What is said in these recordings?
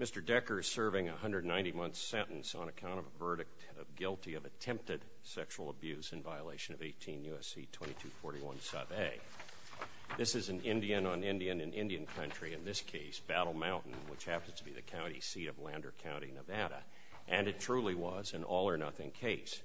Mr. Decker is serving a 190-month sentence on account of a verdict of guilty of attempted sexual abuse in violation of 18 U.S.C. 2241 sub a. This is an Indian-on-Indian-in-Indian country, in this case, Battle Mountain, which happens to be the county seat of Lander County, Nevada, and it truly was an all-or-nothing case.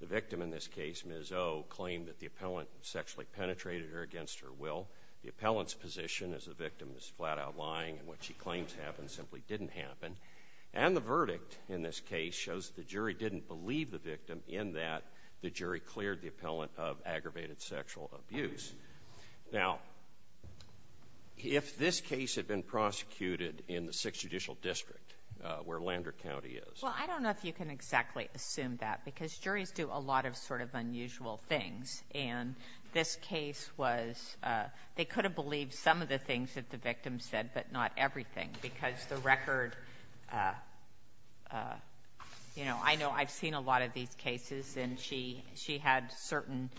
The victim in this case, Ms. O, claimed that the appellant sexually penetrated her against her will. The appellant's position as the victim is flat-out lying and what she claims happened simply didn't happen. And the verdict in this case shows the jury didn't believe the victim in that the jury cleared the appellant of aggravated sexual abuse. Now, if this case had been prosecuted in the Sixth Judicial District, where Lander County is ---- Sotomayor Well, I don't know if you can exactly assume that, because juries do a lot of sort of unusual things. And this case was they could have believed some of the things that the victim said, but not everything, because the record, you know, I know I've seen a lot of these cases, and she had certain,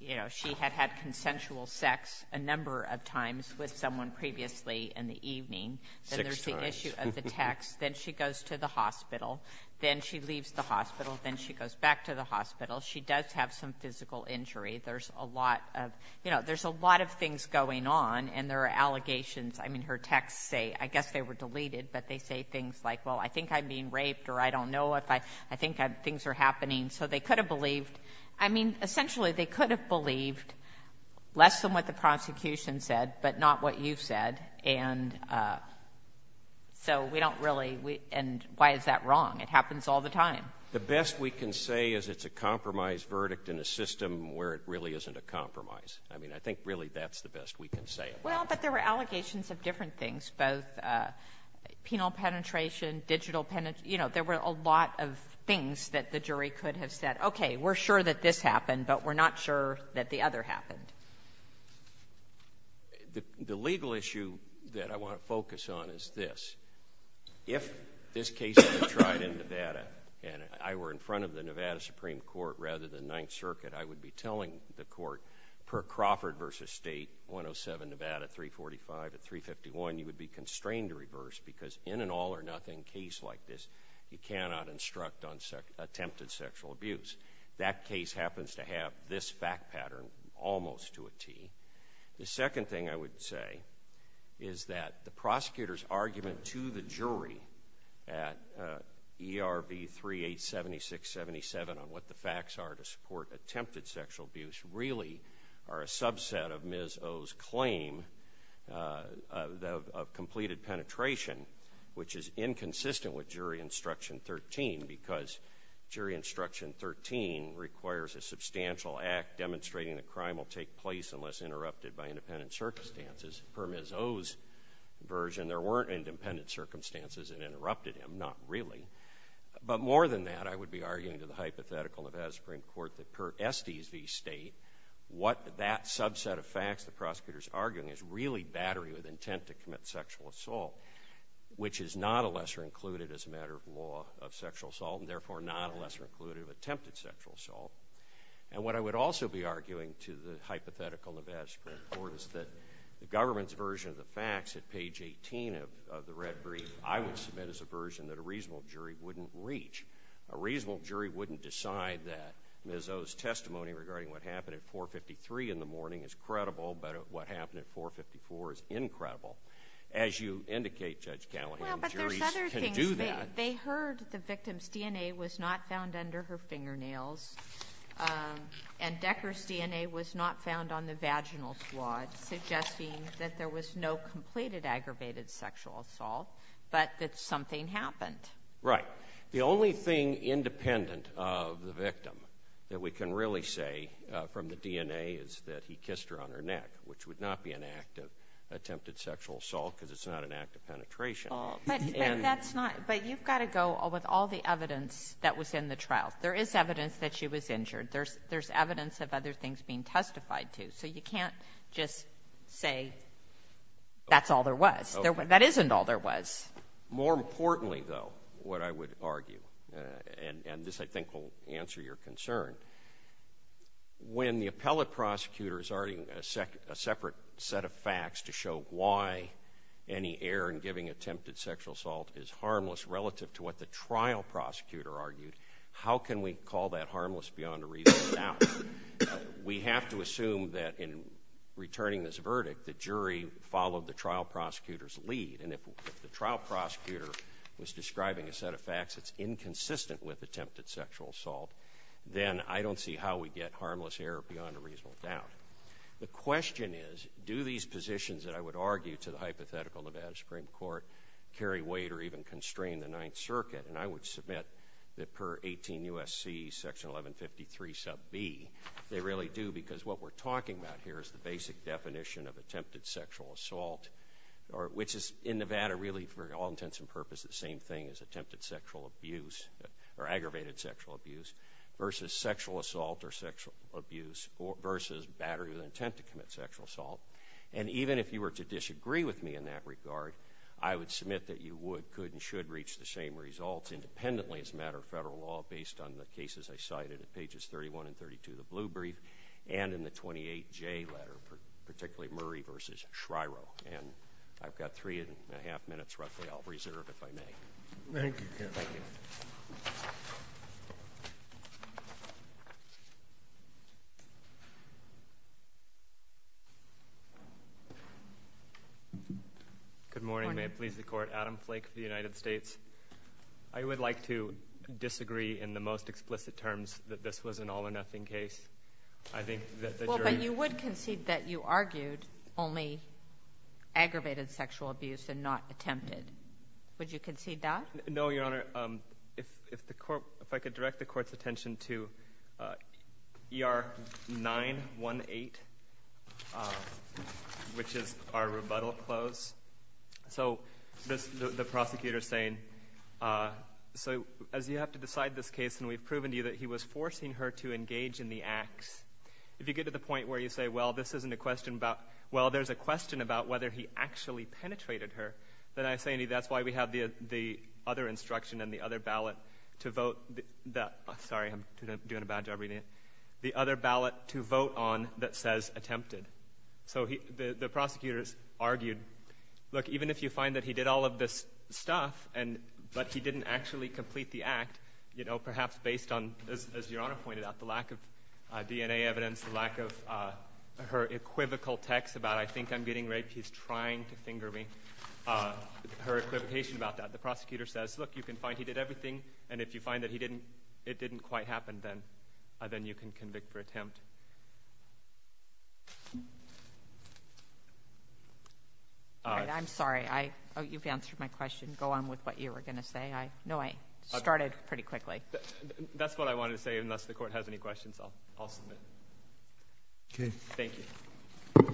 you know, she had had consensual sex a number of times with someone previously in the evening. Then there's the issue of the text. Then she goes to the hospital. Then she leaves the hospital. Then she goes back to the hospital. She does have some physical injury. There's a lot of, you know, there's a lot of things going on, and there are allegations. I mean, her texts say ---- I guess they were deleted, but they say things like, well, I think I'm being raped, or I don't know if I think things are happening. So they could have believed ---- I mean, essentially, they could have believed less than what the prosecution said, but not what you've said. And so we don't really ---- and why is that wrong? It happens all the time. Waxman The best we can say is it's a compromise verdict in a system where it really isn't a compromise. I mean, I think, really, that's the best we can say about it. Sotomayor Well, but there were allegations of different things, both penal penetration, digital ---- you know, there were a lot of things that the jury could have said, okay, we're sure that this happened, but we're not sure that the other happened. Waxman The legal issue that I want to focus on is this. If this case were tried in Nevada, and I were in front of the Nevada Supreme Court rather than Ninth Circuit, I would be telling the court, per Crawford v. State, 107 Nevada, 345, at 351, you would be constrained to reverse because in an all-or-nothing case like this, you cannot instruct on attempted sexual abuse. That case happens to have this fact pattern almost to a T. The second thing I would say is that the prosecutor's argument to the jury at ERB 3876.77 on what the facts are to support attempted sexual abuse really are a subset of Ms. O's claim of completed penetration, which is inconsistent with Jury Instruction 13 because Jury Instruction 13 requires a substantial act demonstrating that crime will take place unless interrupted by independent circumstances. Per Ms. O's version, there weren't independent circumstances that interrupted him, not really. But more than that, I would be arguing to the hypothetical Nevada Supreme Court that per Estes v. State, what that subset of facts the prosecutor's arguing is really battery with intent to commit sexual assault, which is not a lesser included as a matter of law of sexual assault, and therefore not a lesser included of attempted sexual assault. And what I would also be arguing to the hypothetical Nevada Supreme Court is that the government's version of the facts at page 18 of the red brief, I would submit as a version that a reasonable jury wouldn't reach. A reasonable jury wouldn't decide that Ms. O's testimony regarding what happened at 453 in the morning is credible, but what happened at 454 is incredible. As you indicate, Judge Callahan, juries can do that. Well, but there's other things. They heard the victim's DNA was not found under her fingernails, and Decker's DNA was not found on the vaginal swath, suggesting that there was no completed aggravated sexual assault, but that something happened. Right. The only thing independent of the victim that we can really say from the DNA is that he kissed her on her neck, which would not be an act of attempted sexual assault because it's not an act of penetration. But that's not, but you've got to go with all the evidence that was in the trial. There is evidence that she was injured. There's evidence of other things being testified to, so you can't just say that's all there was. That isn't all there was. More importantly, though, what I would argue, and this, I think, will answer your concern, when the appellate prosecutor is arguing a separate set of facts to show why any error in giving attempted sexual assault is harmless relative to what the trial prosecutor argued, how can we call that harmless beyond a reasonable doubt? We have to assume that in returning this verdict, the jury followed the trial prosecutor's lead. And if the trial prosecutor was describing a set of facts that's inconsistent with attempted sexual assault, then I don't see how we get harmless error beyond a reasonable doubt. The question is, do these positions that I would argue to the hypothetical Nevada Supreme Court carry weight or even constrain the Ninth Circuit? And I would submit that per 18 U.S.C. section 1153 sub B, they really do because what we're in Nevada really, for all intents and purposes, the same thing as attempted sexual abuse or aggravated sexual abuse versus sexual assault or sexual abuse versus battery with an intent to commit sexual assault. And even if you were to disagree with me in that regard, I would submit that you would, could, and should reach the same results independently as a matter of federal law based on the cases I cited at pages 31 and 32 of the Blue Brief and in the 28J letter, particularly Murray versus Schreiro. And I've got three and a half minutes roughly I'll reserve, if I may. Thank you, counsel. Thank you. Good morning. May it please the Court. Adam Flake of the United States. I would like to disagree in the most explicit terms that this was an all or nothing case. I think that the jury... ...aggravated sexual abuse and not attempted. Would you concede that? No, Your Honor. If, if the Court, if I could direct the Court's attention to ER 918, which is our rebuttal close. So, this, the prosecutor's saying, so as you have to decide this case and we've proven to you that he was forcing her to engage in the acts, if you get to the point where you a question about, well, there's a question about whether he actually penetrated her, then I say to you that's why we have the, the other instruction and the other ballot to vote that, sorry, I'm doing a bad job reading it, the other ballot to vote on that says attempted. So, he, the, the prosecutors argued, look, even if you find that he did all of this stuff and, but he didn't actually complete the act, you know, perhaps based on, as, as Your equivocal text about I think I'm getting raped, he's trying to finger me, her equivocation about that. The prosecutor says, look, you can find he did everything and if you find that he didn't, it didn't quite happen, then, then you can convict for attempt. I'm sorry, I, you've answered my question. Go on with what you were going to say. I know I started pretty quickly. That's what I wanted to say. Unless the Court has any questions, I'll, I'll submit. Okay. Thank you.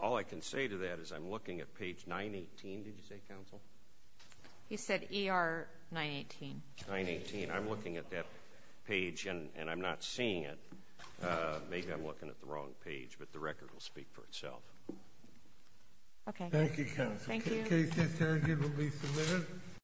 All I can say to that is I'm looking at page 918, did you say, counsel? He said ER 918. 918. I'm looking at that page and, and I'm not seeing it. Maybe I'm looking at the wrong page, but the record will speak for itself. Okay. Thank you, counsel. Thank you. The case has now been released and submitted.